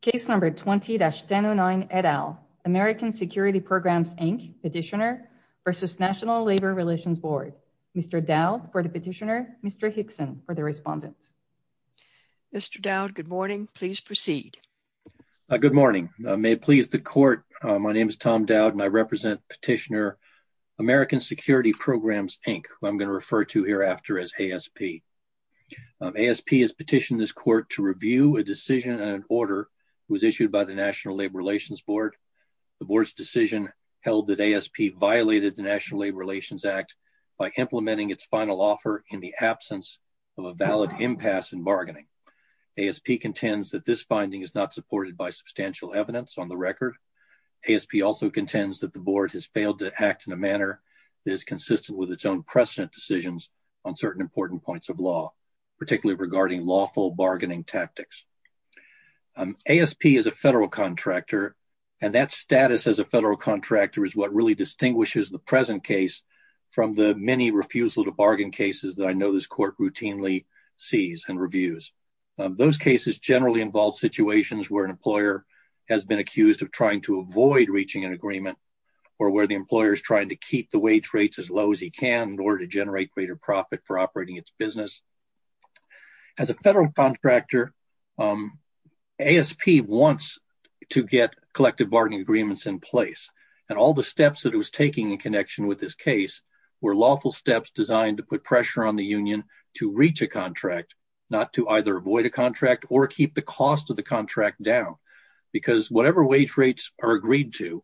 Case No. 20-1009 et al. American Security Programs, Inc. Petitioner v. National Labor Relations Board. Mr. Dowd for the petitioner, Mr. Hickson for the respondent. Mr. Dowd, good morning. Please proceed. Good morning. May it please the Court, my name is Tom Dowd and I represent Petitioner American Security Programs, Inc., who I'm going to refer to hereafter as ASP. ASP has petitioned this Court to review a decision and order that was issued by the National Labor Relations Board. The Board's decision held that ASP violated the National Labor Relations Act by implementing its final offer in the absence of a valid impasse in bargaining. ASP contends that this finding is not supported by substantial evidence on the record. ASP also contends that the Board has failed to act in a manner that is consistent with its own precedent decisions on certain important points of law, particularly regarding lawful bargaining tactics. ASP is a federal contractor, and that status as a federal contractor is what really distinguishes the present case from the many refusal to bargain cases that I know this Court routinely sees and reviews. Those cases generally involve situations where an employer has been accused of trying to avoid reaching an agreement or where the employer is trying to keep the wage rates as low as he can in order to generate greater profit for operating its business. As a federal contractor, ASP wants to get collective bargaining agreements in place, and all the steps that it was taking in connection with this case were lawful steps designed to put pressure on the union to reach a contract, not to either avoid a contract or keep the cost of the contract down. Because whatever wage rates are agreed to,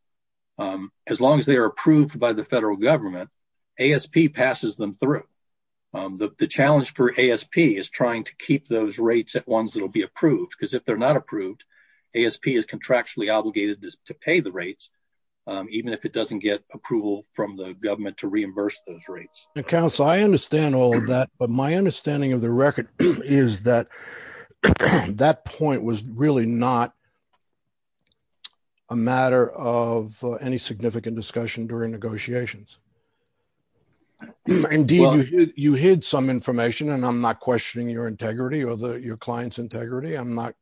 as long as they are approved by the federal government, ASP passes them through. The challenge for ASP is trying to keep those rates at ones that will be approved, because if they're not approved, ASP is contractually obligated to pay the rates, even if it doesn't get approval from the government to reimburse those rates. I understand all of that, but my understanding of the record is that that point was really not a matter of any significant discussion during negotiations. Indeed, you hid some information, and I'm not questioning your integrity or your client's integrity. I'm not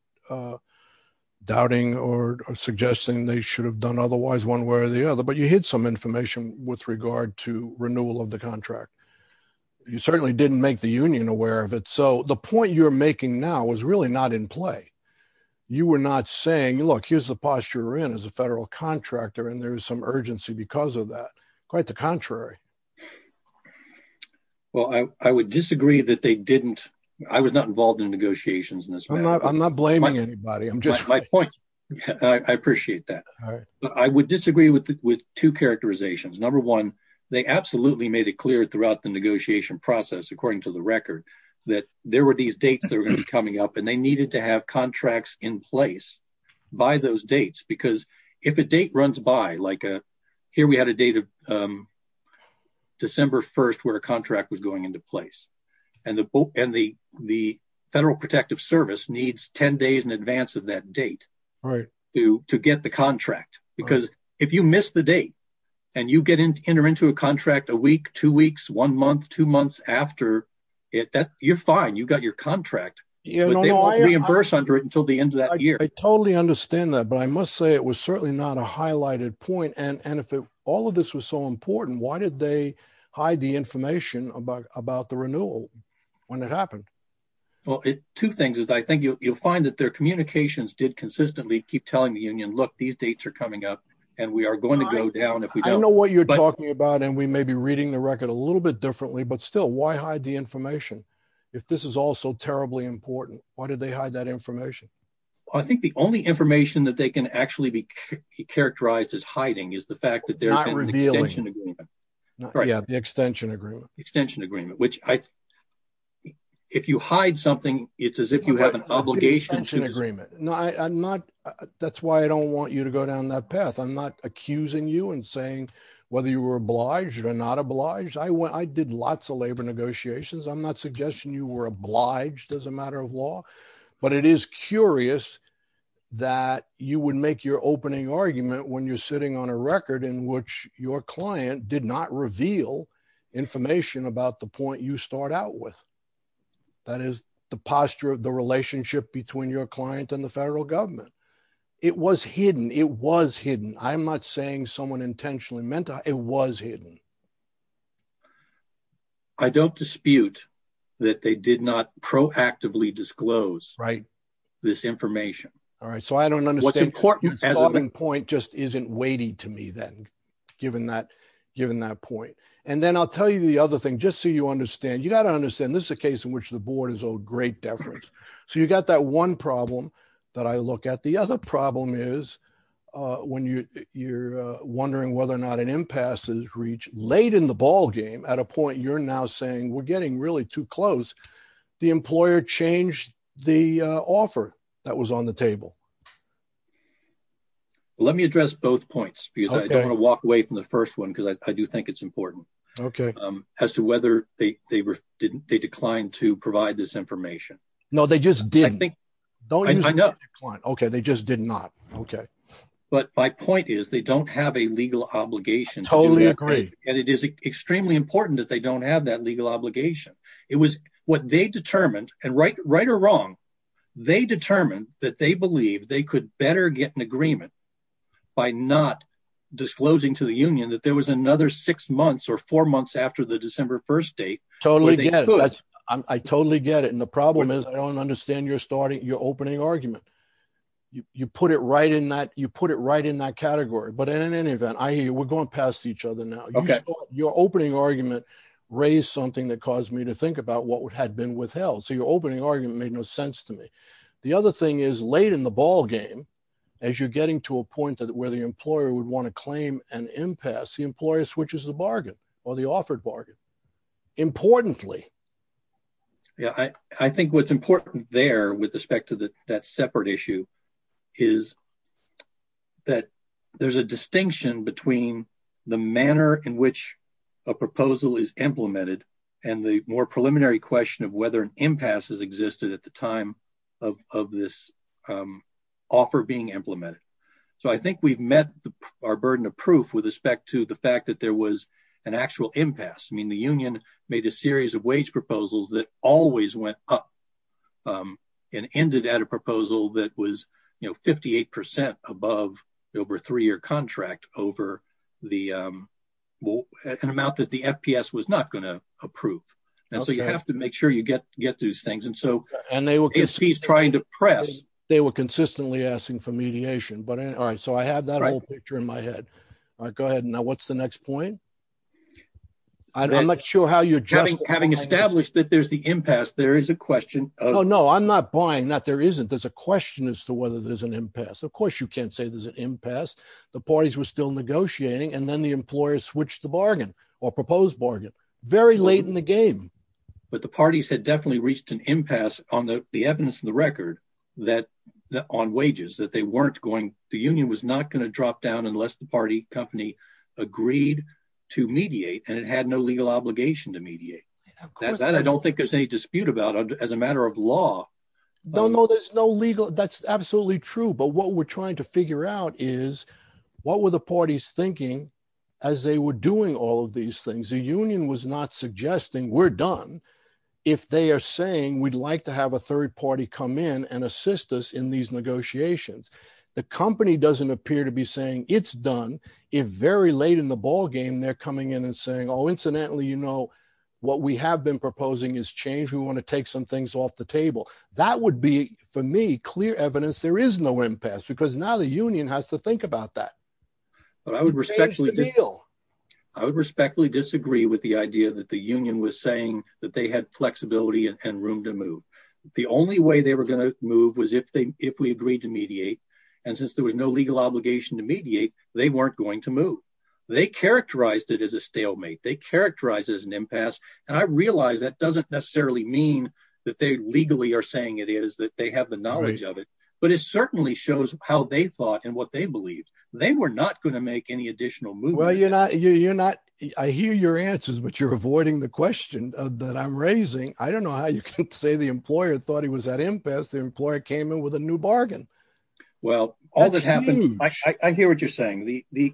doubting or suggesting they should have done otherwise one way or the other, but you hid some information with regard to renewal of the contract. You certainly didn't make the union aware of it, so the point you're making now was really not in play. You were not saying, look, here's the posture we're in as a federal contractor, and there's some urgency because of that. Quite the contrary. Well, I would disagree that they didn't. I was not involved in negotiations in this matter. I'm not blaming anybody. My point, I appreciate that. All right. I would disagree with two characterizations. Number one, they absolutely made it clear throughout the negotiation process, according to the record, that there were these dates that were going to be coming up, and they needed to have contracts in place by those dates. Because if a date runs by, like here we had a date of December 1st where a contract was going into place, and the Federal Protective Service needs 10 days in advance of that date to get the contract. Because if you miss the date, and you enter into a contract a week, two weeks, one month, two months after, you're fine. You've got your contract. But they won't reimburse under it until the end of that year. I totally understand that, but I must say it was certainly not a highlighted point. And if all of this was so important, why did they hide the information about the renewal when it happened? Well, two things. I think you'll find that their communications did consistently keep telling the union, look, these dates are coming up, and we are going to go down if we don't. I know what you're talking about, and we may be reading the record a little bit differently, but still, why hide the information if this is all so terribly important? Why did they hide that information? I think the only information that they can actually be characterized as hiding is the fact that they're in the extension agreement. Yeah, the extension agreement. Extension agreement, which if you hide something, it's as if you have an obligation. The extension agreement. No, I'm not. That's why I don't want you to go down that path. I'm not accusing you and saying whether you were obliged or not obliged. I did lots of labor negotiations. I'm not suggesting you were obliged as a matter of law. But it is curious that you would make your opening argument when you're sitting on a record in which your client did not reveal information about the point you start out with. That is the posture of the relationship between your client and the federal government. It was hidden. It was hidden. I'm not saying someone intentionally meant it. It was hidden. I don't dispute that they did not proactively disclose. Right. This information. All right. So I don't know what's important. Point just isn't weighty to me, then, given that given that point. And then I'll tell you the other thing, just so you understand. You got to understand this is a case in which the board is a great difference. So you got that one problem that I look at. The other problem is when you're wondering whether or not an impasse is reached late in the ballgame at a point you're now saying we're getting really too close. The employer changed the offer that was on the table. Let me address both points because I don't want to walk away from the first one because I do think it's important. Okay. As to whether they didn't they declined to provide this information. No, they just didn't think. Okay. They just did not. Okay. But my point is they don't have a legal obligation. Totally agree. And it is extremely important that they don't have that legal obligation. It was what they determined. And right. Right or wrong. They determined that they believe they could better get an agreement by not disclosing to the union that there was another six months or four months after the December 1st date. Totally. I totally get it. And the problem is I don't understand you're starting your opening argument. You put it right in that you put it right in that category. But in any event, I hear you. We're going past each other now. Okay. Your opening argument raised something that caused me to think about what would have been withheld. So your opening argument made no sense to me. The other thing is late in the ballgame, as you're getting to a point where the employer would want to claim an impasse, the employer switches the bargain or the offered bargain. Importantly. Yeah, I think what's important there with respect to that separate issue is that there's a distinction between the manner in which a proposal is implemented and the more preliminary question of whether an impasse has existed at the time of this offer being implemented. So I think we've met our burden of proof with respect to the fact that there was an actual impasse. I mean, the union made a series of wage proposals that always went up and ended at a proposal that was, you know, 58% above the over three year contract over the amount that the FPS was not going to approve. And so you have to make sure you get get those things. And so, and they were trying to press, they were consistently asking for mediation. But all right, so I have that picture in my head. Go ahead. Now, what's the next point? I'm not sure how you're having established that there's the impasse. There is a question. Oh, no, I'm not buying that. There isn't. There's a question as to whether there's an impasse. Of course, you can't say there's an impasse. The parties were still negotiating. And then the employer switched the bargain or proposed bargain very late in the game. But the parties had definitely reached an impasse on the evidence in the record that on wages that they weren't going. The union was not going to drop down unless the party company agreed to mediate and it had no legal obligation to mediate that. I don't think there's a dispute about as a matter of law. No, no, there's no legal. That's absolutely true. But what we're trying to figure out is what were the parties thinking as they were doing all of these things? The union was not suggesting we're done if they are saying we'd like to have a third party come in and assist us in these negotiations. The company doesn't appear to be saying it's done. If very late in the ballgame, they're coming in and saying, oh, incidentally, you know, what we have been proposing is change. We want to take some things off the table. That would be, for me, clear evidence there is no impasse because now the union has to think about that. I would respectfully disagree with the idea that the union was saying that they had flexibility and room to move. The only way they were going to move was if they if we agreed to mediate. And since there was no legal obligation to mediate, they weren't going to move. They characterized it as a stalemate. They characterize as an impasse. And I realize that doesn't necessarily mean that they legally are saying it is that they have the knowledge of it. But it certainly shows how they thought and what they believed. They were not going to make any additional. Well, you're not you're not. I hear your answers, but you're avoiding the question that I'm raising. I don't know how you can say the employer thought he was at impasse. The employer came in with a new bargain. Well, all that happened. I hear what you're saying. The the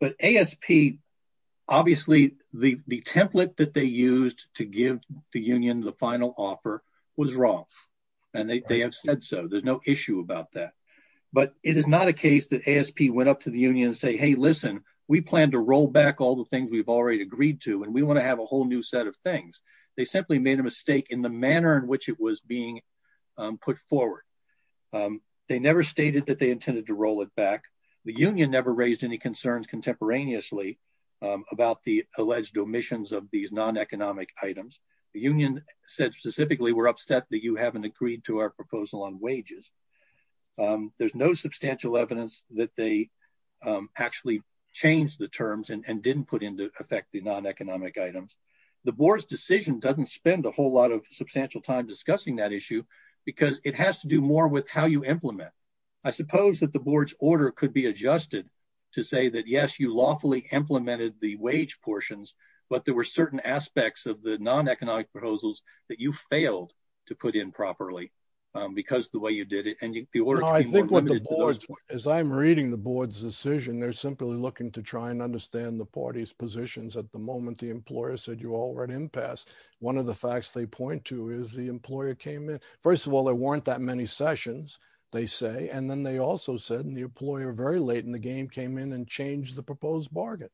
the ASP. Obviously, the the template that they used to give the union the final offer was wrong. And they have said so. There's no issue about that. But it is not a case that ASP went up to the union and say, hey, listen, we plan to roll back all the things we've already agreed to and we want to have a whole new set of things. They simply made a mistake in the manner in which it was being put forward. They never stated that they intended to roll it back. The union never raised any concerns contemporaneously about the alleged omissions of these non-economic items. The union said specifically, we're upset that you haven't agreed to our proposal on wages. There's no substantial evidence that they actually changed the terms and didn't put into effect the non-economic items. The board's decision doesn't spend a whole lot of substantial time discussing that issue because it has to do more with how you implement. I suppose that the board's order could be adjusted to say that, yes, you lawfully implemented the wage portions. But there were certain aspects of the non-economic proposals that you failed to put in properly because the way you did it. And I think as I'm reading the board's decision, they're simply looking to try and understand the party's positions at the moment. The employer said you already passed. One of the facts they point to is the employer came in. First of all, there weren't that many sessions, they say. And then they also said the employer very late in the game came in and changed the proposed bargain.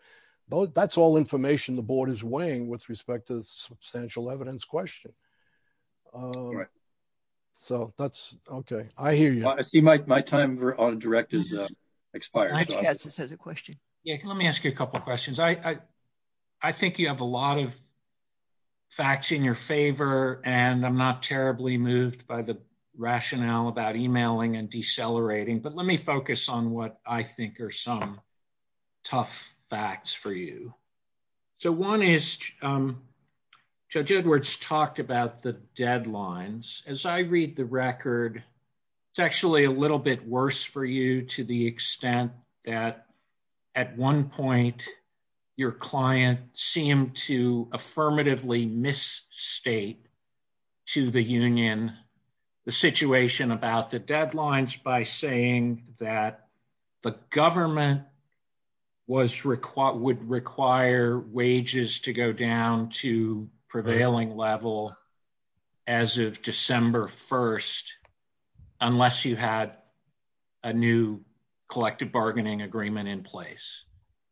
That's all information the board is weighing with respect to the substantial evidence question. I hear you. I see my time on direct is expired. Let me ask you a couple of questions. I think you have a lot of facts in your favor, and I'm not terribly moved by the rationale about emailing and decelerating. But let me focus on what I think are some tough facts for you. So one is Judge Edwards talked about the deadlines. As I read the record, it's actually a little bit worse for you to the extent that at one point, your client seemed to affirmatively misstate to the union. The situation about the deadlines by saying that the government was required would require wages to go down to prevailing level as of December 1st, unless you had a new collective bargaining agreement in place.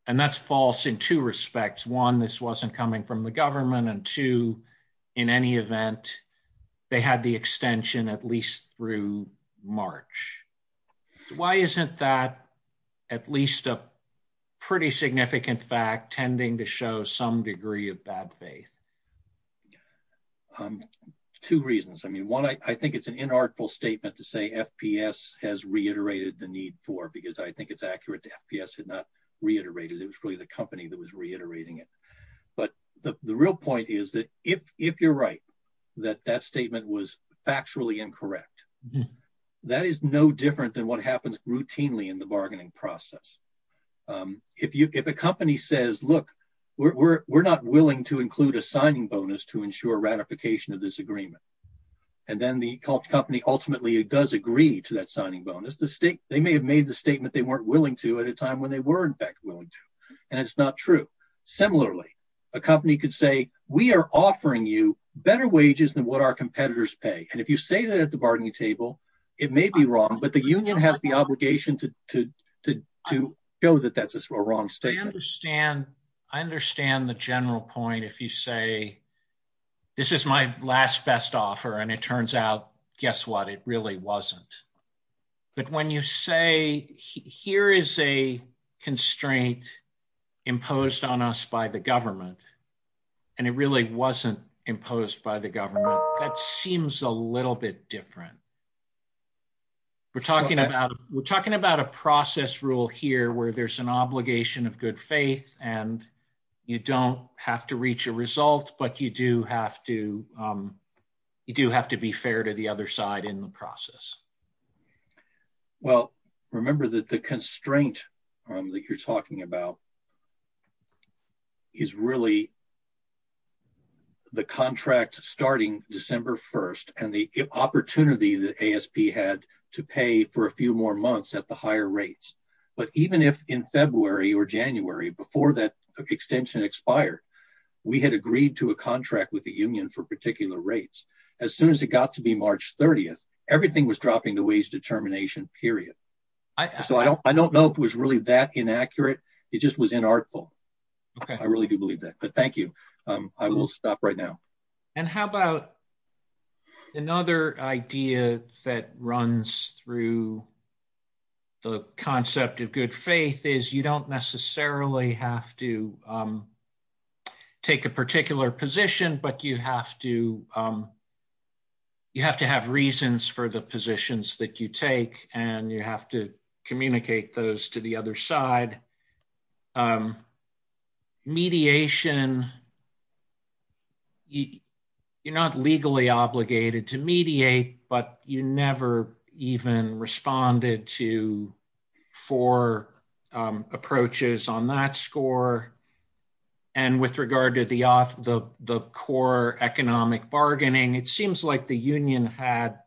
And that's false in two respects. One, this wasn't coming from the government and two, in any event, they had the extension at least through March. Why isn't that at least a pretty significant fact tending to show some degree of bad faith. Two reasons. I mean, one, I think it's an inartful statement to say FPS has reiterated the need for because I think it's accurate to FPS had not reiterated it was really the company that was reiterating it. But the real point is that if if you're right, that that statement was factually incorrect. That is no different than what happens routinely in the bargaining process. If you if a company says, look, we're not willing to include a signing bonus to ensure ratification of this agreement. And then the company ultimately does agree to that signing bonus the state, they may have made the statement they weren't willing to at a time when they were in fact willing to. And it's not true. Similarly, a company could say, we are offering you better wages than what our competitors pay. And if you say that at the bargaining table, it may be wrong, but the union has the obligation to to to show that that's a wrong statement. I understand. I understand the general point if you say this is my last best offer and it turns out, guess what, it really wasn't. But when you say here is a constraint imposed on us by the government, and it really wasn't imposed by the government, that seems a little bit different. We're talking about we're talking about a process rule here where there's an obligation of good faith and you don't have to reach a result, but you do have to you do have to be fair to the other side in the process. Well, remember that the constraint that you're talking about is really the contract starting December 1st and the opportunity that ASP had to pay for a few more months at the higher rates. But even if in February or January before that extension expired, we had agreed to a contract with the union for particular rates, as soon as it got to be March 30th, everything was dropping the wage determination period. So I don't I don't know if it was really that inaccurate. It just was inartful. I really do believe that. But thank you. I will stop right now. And how about another idea that runs through the concept of good faith is you don't necessarily have to take a particular position, but you have to have reasons for the positions that you take, and you have to communicate those to the other side. Mediation. You're not legally obligated to mediate, but you never even responded to four approaches on that score. And with regard to the core economic bargaining, it seems like the union had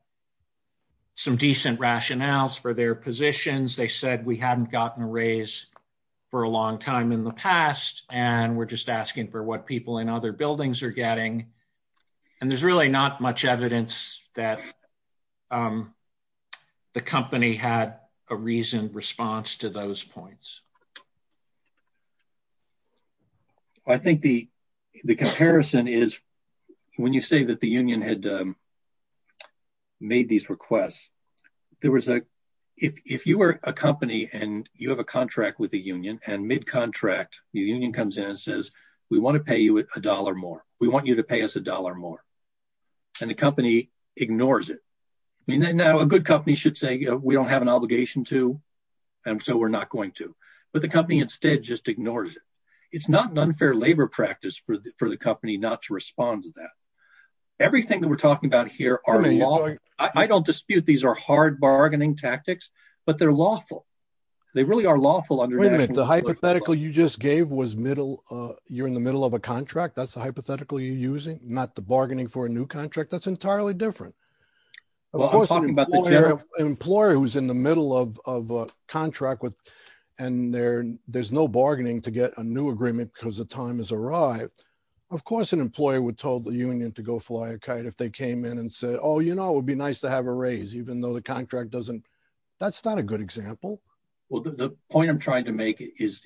some decent rationales for their positions. They said we hadn't gotten a raise for a long time in the past, and we're just asking for what people in other buildings are getting. And there's really not much evidence that the company had a reasoned response to those points. I think the comparison is when you say that the union had made these requests, there was a, if you were a company and you have a contract with the union and mid contract, the union comes in and says, we want to pay you a dollar more. We want you to pay us a dollar more. And the company ignores it. Now a good company should say, we don't have an obligation to, and so we're not going to. But the company instead just ignores it. It's not an unfair labor practice for the company not to respond to that. Everything that we're talking about here are, I don't dispute these are hard bargaining tactics, but they're lawful. They really are lawful. The hypothetical you just gave was middle, you're in the middle of a contract. That's the hypothetical you're using, not the bargaining for a new contract. That's entirely different. An employer who's in the middle of a contract with, and there's no bargaining to get a new agreement because the time has arrived. Of course, an employer would told the union to go fly a kite if they came in and said, oh, you know, it would be nice to have a raise, even though the contract doesn't, that's not a good example. Well, the point I'm trying to make is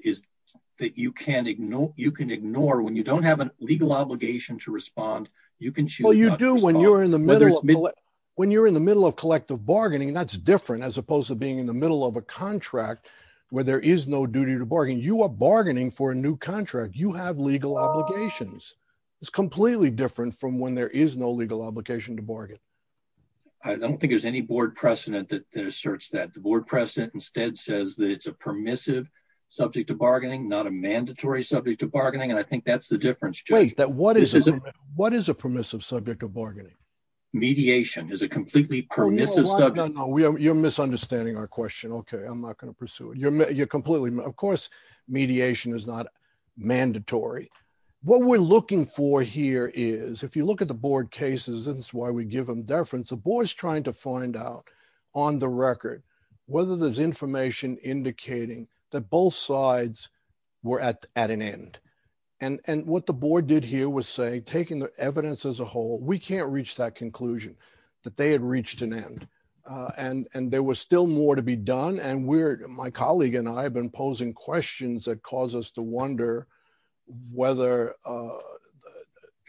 that you can ignore when you don't have a legal obligation to respond. Well, you do when you're in the middle of collective bargaining, that's different as opposed to being in the middle of a contract where there is no duty to bargain. You are bargaining for a new contract. You have legal obligations. It's completely different from when there is no legal obligation to bargain. I don't think there's any board precedent that asserts that. The board precedent instead says that it's a permissive subject to bargaining, not a mandatory subject to bargaining, and I think that's the difference. Wait, what is a permissive subject of bargaining? Mediation is a completely permissive subject. You're misunderstanding our question. Okay, I'm not going to pursue it. Of course, mediation is not mandatory. What we're looking for here is, if you look at the board cases, and this is why we give them deference, the board's trying to find out on the record whether there's information indicating that both sides were at an end. And what the board did here was say, taking the evidence as a whole, we can't reach that conclusion, that they had reached an end. And there was still more to be done, and my colleague and I have been posing questions that cause us to wonder whether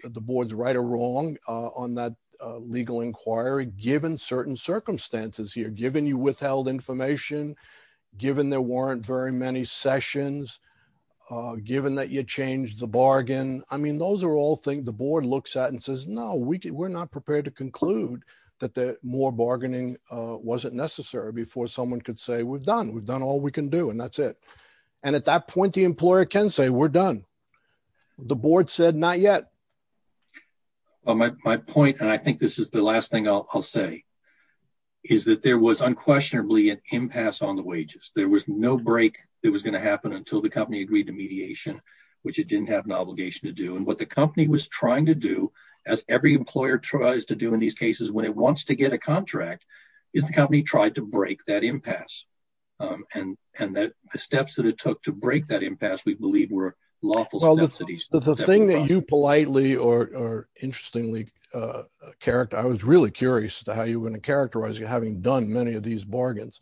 the board's right or wrong on that legal inquiry, given certain circumstances here, given you withheld information, given there weren't very many sessions, given that you changed the bargain. I mean, those are all things the board looks at and says, no, we're not prepared to conclude that more bargaining wasn't necessary before someone could say, we're done. We've done all we can do, and that's it. And at that point, the employer can say, we're done. The board said, not yet. Well, my point, and I think this is the last thing I'll say, is that there was unquestionably an impasse on the wages. There was no break that was going to happen until the company agreed to mediation, which it didn't have an obligation to do. And what the company was trying to do, as every employer tries to do in these cases when it wants to get a contract, is the company tried to break that impasse. And the steps that it took to break that impasse, we believe, were lawful steps. Well, the thing that you politely or interestingly, I was really curious to how you were going to characterize it, having done many of these bargains.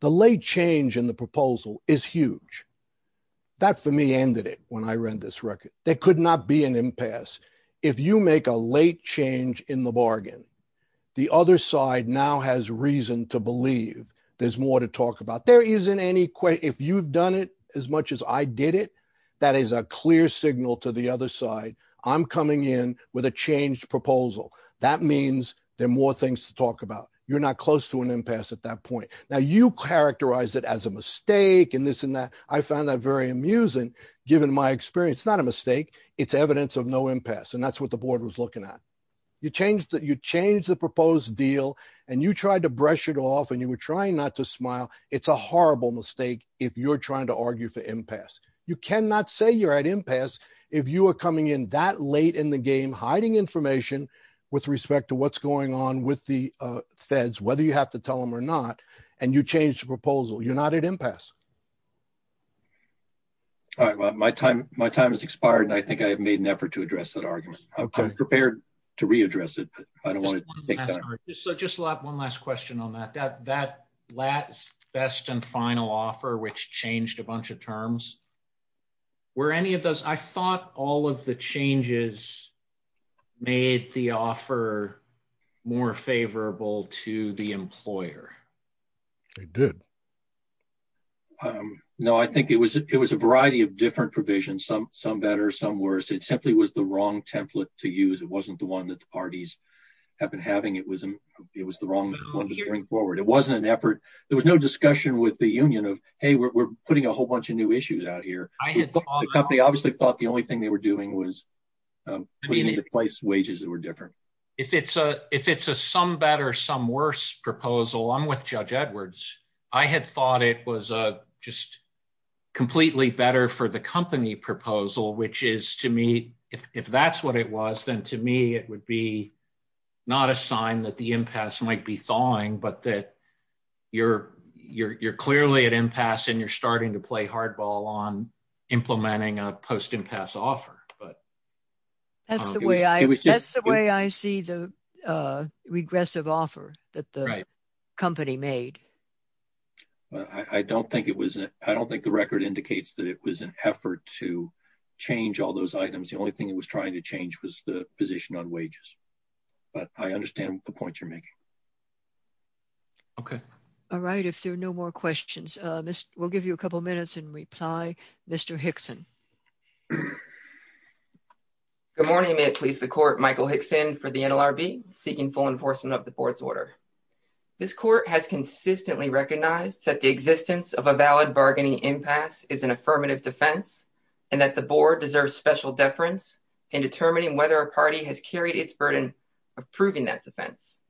The late change in the proposal is huge. That, for me, ended it when I ran this record. There could not be an impasse. If you make a late change in the bargain, the other side now has reason to believe there's more to talk about. If you've done it as much as I did it, that is a clear signal to the other side, I'm coming in with a changed proposal. That means there are more things to talk about. You're not close to an impasse at that point. Now, you characterized it as a mistake and this and that. I found that very amusing, given my experience. It's not a mistake. It's evidence of no impasse. And that's what the board was looking at. You changed the proposed deal and you tried to brush it off and you were trying not to smile. It's a horrible mistake if you're trying to argue for impasse. You cannot say you're at impasse if you are coming in that late in the game, hiding information with respect to what's going on with the feds, whether you have to tell them or not, and you changed the proposal. You're not at impasse. All right. My time has expired and I think I've made an effort to address that argument. I'm prepared to readdress it, but I don't want to take time. Just one last question on that. That last best and final offer, which changed a bunch of terms, were any of those... I thought all of the changes made the offer more favorable to the employer. It did. No, I think it was a variety of different provisions, some better, some worse. It simply was the wrong template to use. It wasn't the one that the parties have been having. It was the wrong one to bring forward. It wasn't an effort. There was no discussion with the union of, hey, we're putting a whole bunch of new issues out here. The company obviously thought the only thing they were doing was putting into place wages that were different. If it's a some better, some worse proposal, I'm with Judge Edwards. I had thought it was just completely better for the company proposal, which is to me, if that's what it was, then to me it would be not a sign that the impasse might be thawing, but that you're clearly at impasse and you're starting to play hardball on implementing a post-impasse offer. That's the way I see the regressive offer that the company made. I don't think the record indicates that it was an effort to change all those items. The only thing it was trying to change was the position on wages, but I understand the point you're making. Okay. All right. If there are no more questions, we'll give you a couple minutes and reply. Mr. Hickson. Good morning. May it please the court, Michael Hickson for the NLRB, seeking full enforcement of the board's order. This court has consistently recognized that the existence of a valid bargaining impasse is an affirmative defense and that the board deserves special deference in determining whether a party has carried its burden of proving that defense.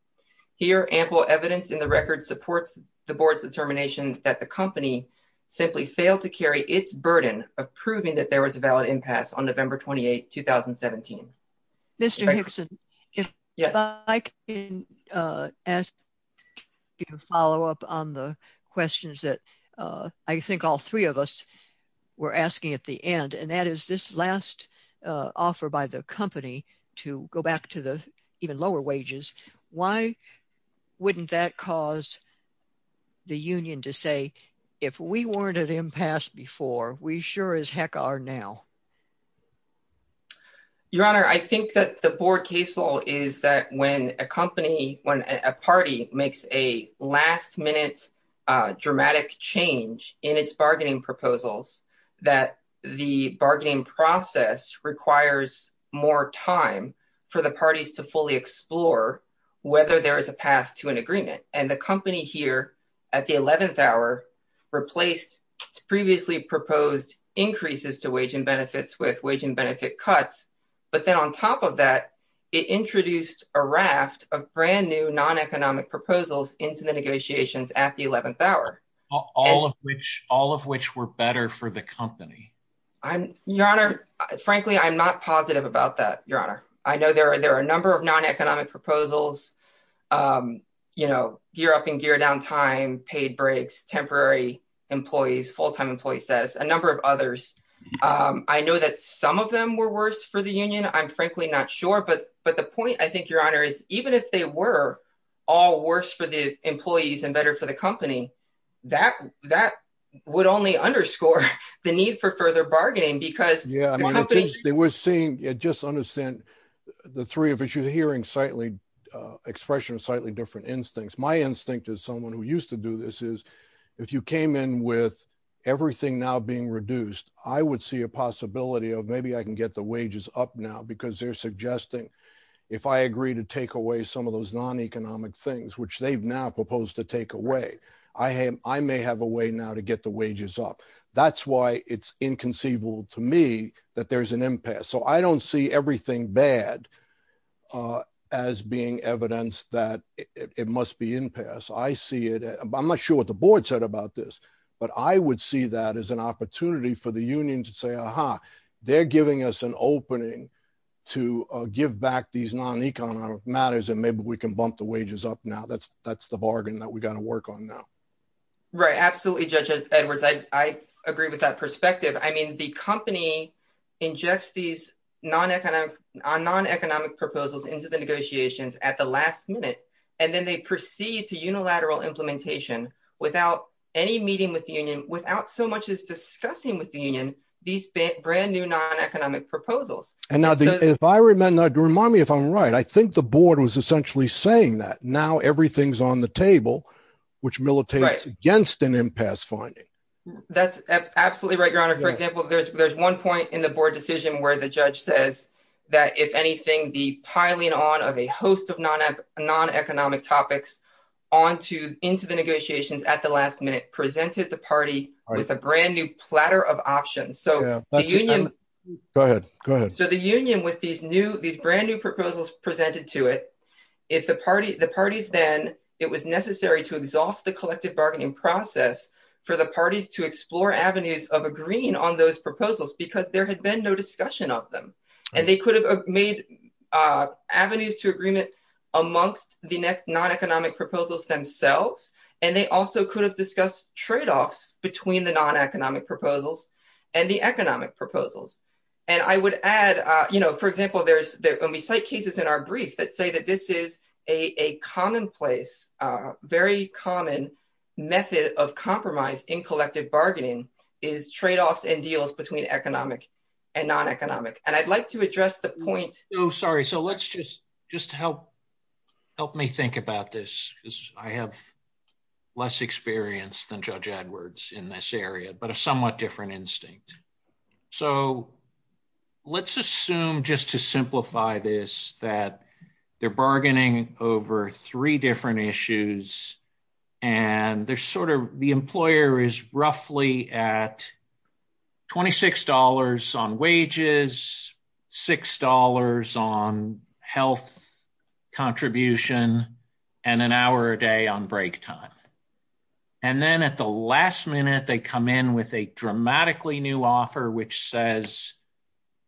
Here, ample evidence in the record supports the board's determination that the company simply failed to carry its burden of proving that there was a valid impasse on November 28, 2017. Mr. Hickson, if I can ask you to follow up on the questions that I think all three of us were asking at the end, and that is this last offer by the company to go back to the even lower wages, why wouldn't that cause the union to say, if we weren't at impasse before, we sure as heck are now? Your Honor, I think that the board case law is that when a company, when a party makes a last minute dramatic change in its bargaining proposals, that the bargaining process requires more time for the parties to fully explore whether there is a path to an agreement. And the company here at the 11th hour replaced its previously proposed increases to wage and benefits with wage and benefit cuts. But then on top of that, it introduced a raft of brand new non-economic proposals into the negotiations at the 11th hour. All of which were better for the company. Your Honor, frankly, I'm not positive about that, Your Honor. I know there are a number of non-economic proposals, you know, gear up and gear down time, paid breaks, temporary employees, full-time employee status, a number of others. I know that some of them were worse for the union. I'm frankly not sure, but the point I think, Your Honor, is even if they were all worse for the employees and better for the company, that would only underscore the need for further bargaining because the company- I would see a possibility of maybe I can get the wages up now because they're suggesting if I agree to take away some of those non-economic things, which they've now proposed to take away, I may have a way now to get the wages up. That's why it's inconceivable to me that there's an impasse. So I don't see everything bad as being evidence that it must be impasse. I see it- I'm not sure what the board said about this, but I would see that as an opportunity for the union to say, aha, they're giving us an opening to give back these non-economic matters and maybe we can bump the wages up now. That's the bargain that we got to work on now. Right. Absolutely, Judge Edwards. I agree with that perspective. I mean, the company injects these non-economic proposals into the negotiations at the last minute and then they proceed to unilateral implementation without any meeting with the union, without so much as discussing with the union these brand new non-economic proposals. And now if I remember, remind me if I'm right, I think the board was essentially saying that now everything's on the table, which militates against an impasse finding. That's absolutely right, Your Honor. For example, there's one point in the board decision where the judge says that if anything, the piling on of a host of non-economic topics into the negotiations at the last minute presented the party with a brand new platter of options. So the union with these brand new proposals presented to it, if the parties then, it was necessary to exhaust the collective bargaining process for the parties to explore avenues of agreeing on those proposals because there had been no discussion of them. And they could have made avenues to agreement amongst the non-economic proposals themselves. And they also could have discussed tradeoffs between the non-economic proposals and the economic proposals. And I would add, you know, for example, there's, when we cite cases in our brief that say that this is a commonplace, very common method of compromise in collective bargaining is tradeoffs and deals between economic and non-economic. And I'd like to address the point. Oh, sorry. So let's just, just help, help me think about this. I have less experience than Judge Edwards in this area, but a somewhat different instinct. So let's assume just to simplify this, that they're bargaining over three different issues and they're sort of, the employer is roughly at $26 on wages, $6 on health contribution, and an hour a day on break time. And then at the last minute, they come in with a dramatically new offer, which says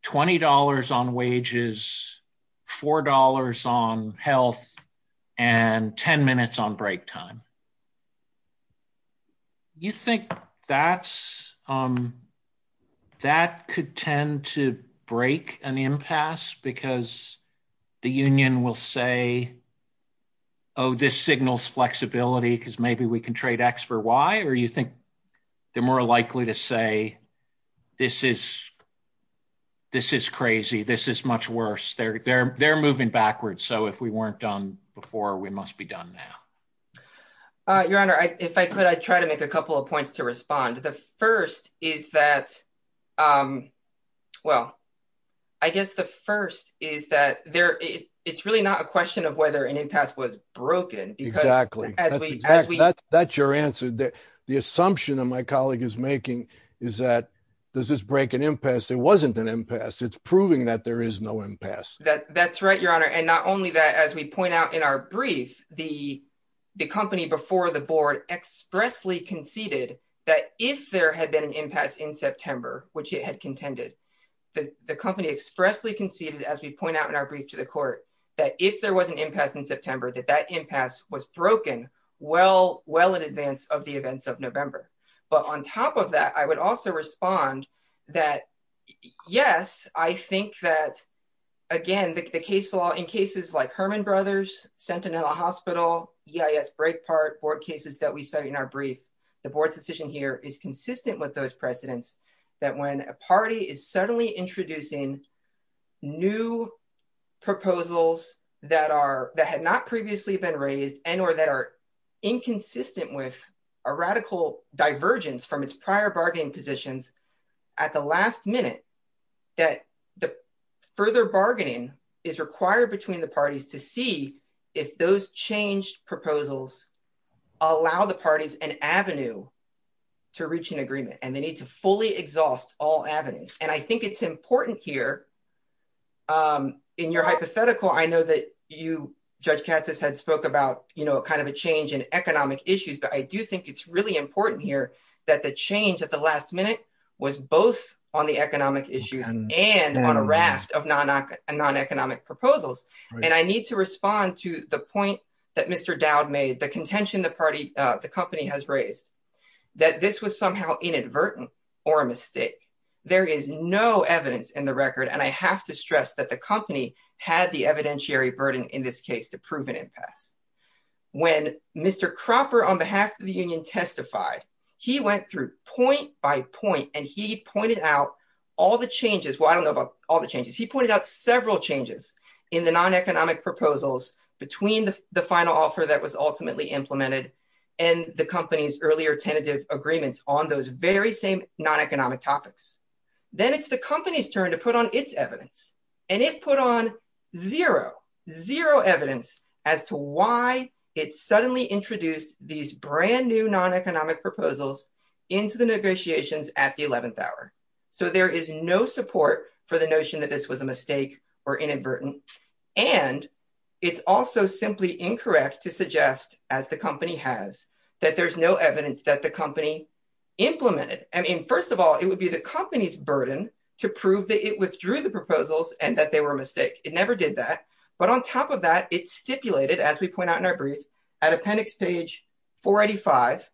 $20 on wages, $4 on health, and 10 minutes on break time. You think that's, that could tend to break an impasse because the union will say, oh, this signals flexibility because maybe we can trade X for Y, or you think they're more likely to say, this is, this is crazy. This is much worse. They're, they're, they're moving backwards. So if we weren't done before, we must be done now. Your Honor, if I could, I'd try to make a couple of points to respond. The first is that, well, I guess the first is that there, it's really not a question of whether an impasse was broken. Exactly. That's your answer. The assumption that my colleague is making is that, does this break an impasse? It wasn't an impasse. It's proving that there is no impasse. That's right, Your Honor. And not only that, as we point out in our brief, the company before the board expressly conceded that if there had been an impasse in September, which it had contended, the company expressly conceded, as we point out in our brief to the court, that if there was an impasse in September, that that impasse was broken well, well in advance of the events of November. But on top of that, I would also respond that, yes, I think that, again, the case law in cases like Herman Brothers, Sentinel Hospital, EIS Breitbart, board cases that we say in our brief, the board's decision here is consistent with those precedents, that when a party is suddenly introducing new proposals that are, that had not previously been raised and or that are inconsistent with a radical decision, that there is a divergence from its prior bargaining positions at the last minute, that the further bargaining is required between the parties to see if those changed proposals allow the parties an avenue to reach an agreement and they need to fully exhaust all avenues. And I think it's important here, in your hypothetical, I know that you, Judge Katsas, had spoke about kind of a change in economic issues, but I do think it's really important here that the change at the last minute was both on the economic issues and on a raft of non-economic proposals. And I need to respond to the point that Mr. Dowd made, the contention the party, the company has raised, that this was somehow inadvertent or a mistake. There is no evidence in the record, and I have to stress that the company had the evidentiary burden in this case to prove an impasse. When Mr. Cropper, on behalf of the union, testified, he went through point by point and he pointed out all the changes. Well, I don't know about all the changes. He pointed out several changes in the non-economic proposals between the final offer that was ultimately implemented and the company's earlier tentative agreements on those very same non-economic topics. Then it's the company's turn to put on its evidence, and it put on zero, zero evidence as to why it suddenly introduced these brand new non-economic proposals into the negotiations at the 11th hour. So there is no support for the notion that this was a mistake or inadvertent. And it's also simply incorrect to suggest, as the company has, that there's no evidence that the company implemented. I mean, first of all, it would be the company's burden to prove that it withdrew the proposals and that they were a mistake. It never did that. But on top of that, it stipulated, as we point out in our brief, at appendix page 485,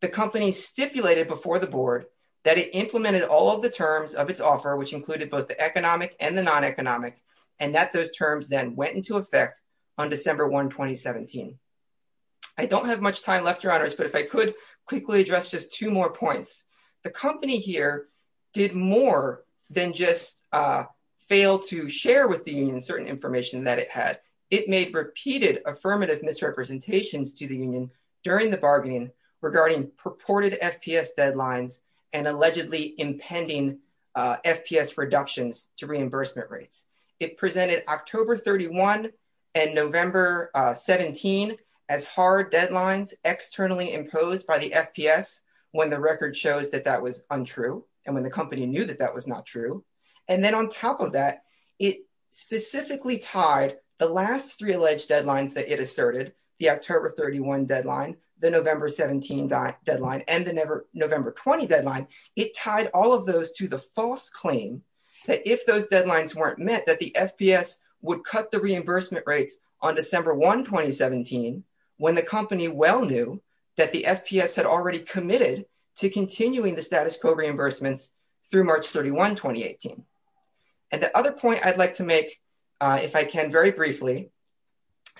the company stipulated before the board that it implemented all of the terms of its offer, which included both the economic and the non-economic, and that those terms then went into effect on December 1, 2017. I don't have much time left, Your Honors, but if I could quickly address just two more points. The company here did more than just fail to share with the union certain information that it had. It made repeated affirmative misrepresentations to the union during the bargaining regarding purported FPS deadlines and allegedly impending FPS reductions to reimbursement rates. It presented October 31 and November 17 as hard deadlines externally imposed by the FPS when the record shows that that was untrue and when the company knew that that was not true. And then on top of that, it specifically tied the last three alleged deadlines that it asserted, the October 31 deadline, the November 17 deadline, and the November 20 deadline, it tied all of those to the false claim that if those deadlines weren't met, that the FPS would cut the reimbursement rates on December 1, 2017, when the company well knew that the FPS had already committed to continuing the status quo reimbursements through March 31, 2018. And the other point I'd like to make, if I can, very briefly,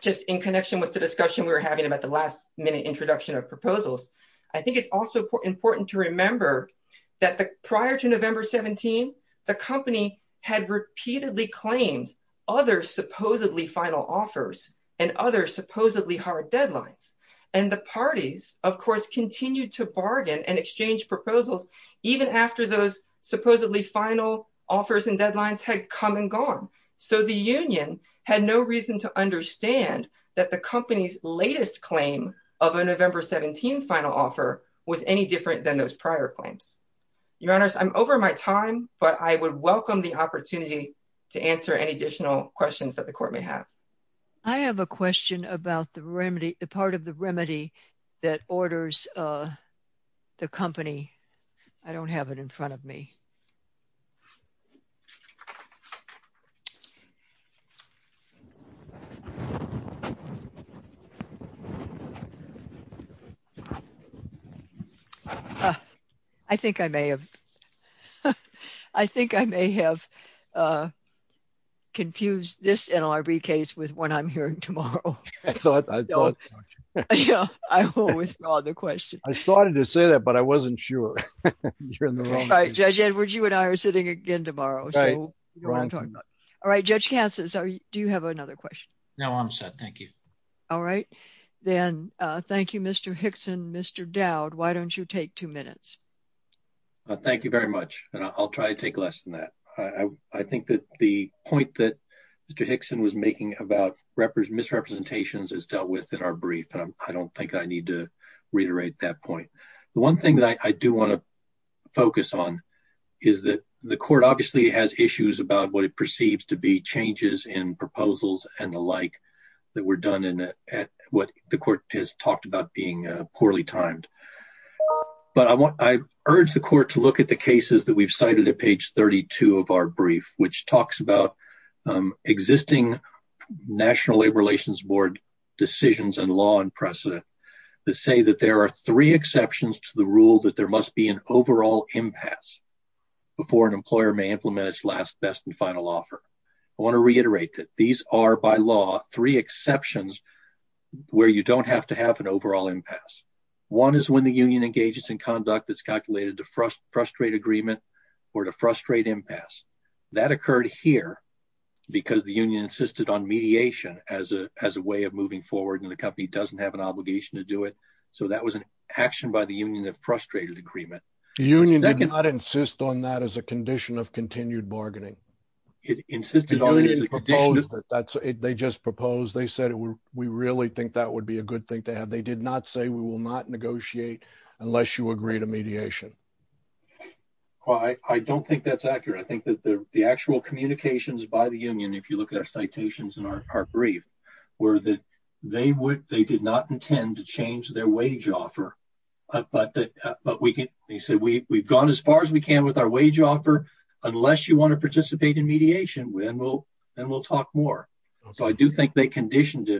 just in connection with the discussion we were having about the last minute introduction of proposals, I think it's also important to remember that prior to November 17, the company had repeatedly claimed other supposedly final offers and other supposedly hard deadlines. And the parties, of course, continued to bargain and exchange proposals, even after those supposedly final offers and deadlines had come and gone. So the union had no reason to understand that the company's latest claim of a November 17 final offer was any different than those prior claims. Your Honors, I'm over my time, but I would welcome the opportunity to answer any additional questions that the Court may have. I have a question about the part of the remedy that orders the company. I don't have it in front of me. I think I may have. I think I may have confused this NLRB case with one I'm hearing tomorrow. I thought. I will withdraw the question. I started to say that, but I wasn't sure. All right, Judge Edwards, you and I are sitting again tomorrow. All right, Judge Katsas, do you have another question? No, I'm set. Thank you. All right. Then, thank you, Mr. Hickson. Mr. Dowd, why don't you take two minutes? Thank you very much, and I'll try to take less than that. I think that the point that Mr. Hickson was making about misrepresentations is dealt with in our brief, and I don't think I need to reiterate that point. The one thing that I do want to focus on is that the court obviously has issues about what it perceives to be changes in proposals and the like that were done in what the court has talked about being poorly timed. But I urge the court to look at the cases that we've cited at page 32 of our brief, which talks about existing National Labor Relations Board decisions and law and precedent that say that there are three exceptions to the rule that there must be an overall impasse before an employer may implement its last, best, and final offer. I want to reiterate that these are, by law, three exceptions where you don't have to have an overall impasse. One is when the union engages in conduct that's calculated to frustrate agreement or to frustrate impasse. That occurred here because the union insisted on mediation as a way of moving forward, and the company doesn't have an obligation to do it. So that was an action by the union that frustrated agreement. The union did not insist on that as a condition of continued bargaining. They just proposed. They said we really think that would be a good thing to have. They did not say we will not negotiate unless you agree to mediation. I don't think that's accurate. I think that the actual communications by the union, if you look at our citations in our brief, were that they did not intend to change their wage offer. They said we've gone as far as we can with our wage offer. Unless you want to participate in mediation, then we'll talk more. So I do think they conditioned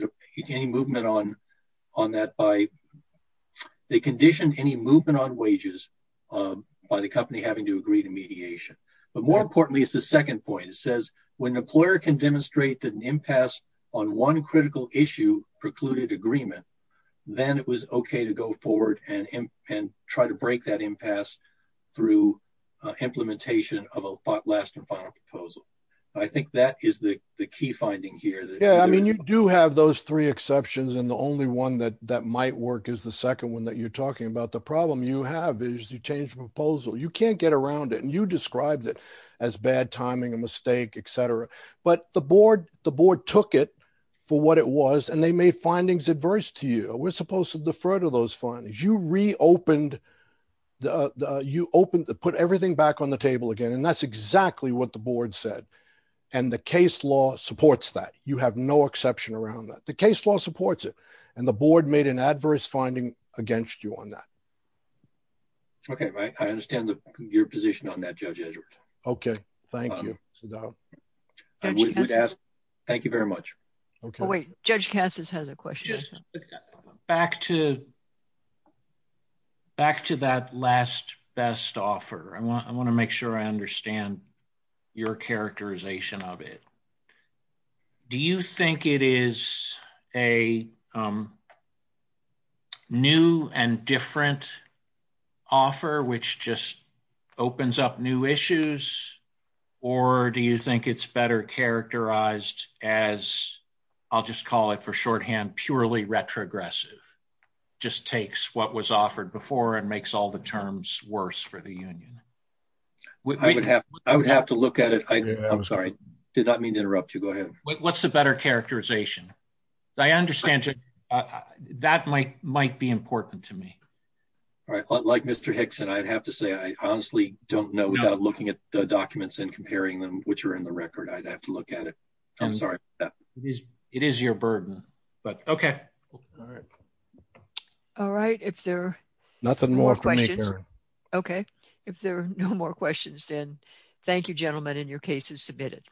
any movement on wages by the company having to agree to mediation. But more importantly, it's the second point. It says when an employer can demonstrate that an impasse on one critical issue precluded agreement, then it was okay to go forward and try to break that impasse through implementation of a last and final proposal. I think that is the key finding here. Yeah, I mean, you do have those three exceptions, and the only one that might work is the second one that you're talking about. The problem you have is you changed the proposal. You can't get around it, and you described it as bad timing, a mistake, et cetera. But the board took it for what it was, and they made findings adverse to you. We're supposed to defer to those findings. You reopened, you put everything back on the table again, and that's exactly what the board said. And the case law supports that. You have no exception around that. The case law supports it. And the board made an adverse finding against you on that. Okay. I understand your position on that, Judge Edgeworth. Okay. Thank you. Thank you very much. Oh, wait. Judge Cassis has a question. Back to that last best offer. I want to make sure I understand your characterization of it. Do you think it is a new and different offer, which just opens up new issues? Or do you think it's better characterized as, I'll just call it for shorthand, purely retrogressive, just takes what was offered before and makes all the terms worse for the union? I would have to look at it. I'm sorry. I did not mean to interrupt you. Go ahead. What's the better characterization? I understand that might be important to me. All right. Like Mr. Hickson, I'd have to say I honestly don't know without looking at the documents and comparing them, which are in the record. I'd have to look at it. I'm sorry. It is your burden. Okay. All right. If there are nothing more questions. Okay. If there are no more questions, then thank you, gentlemen, and your case is submitted.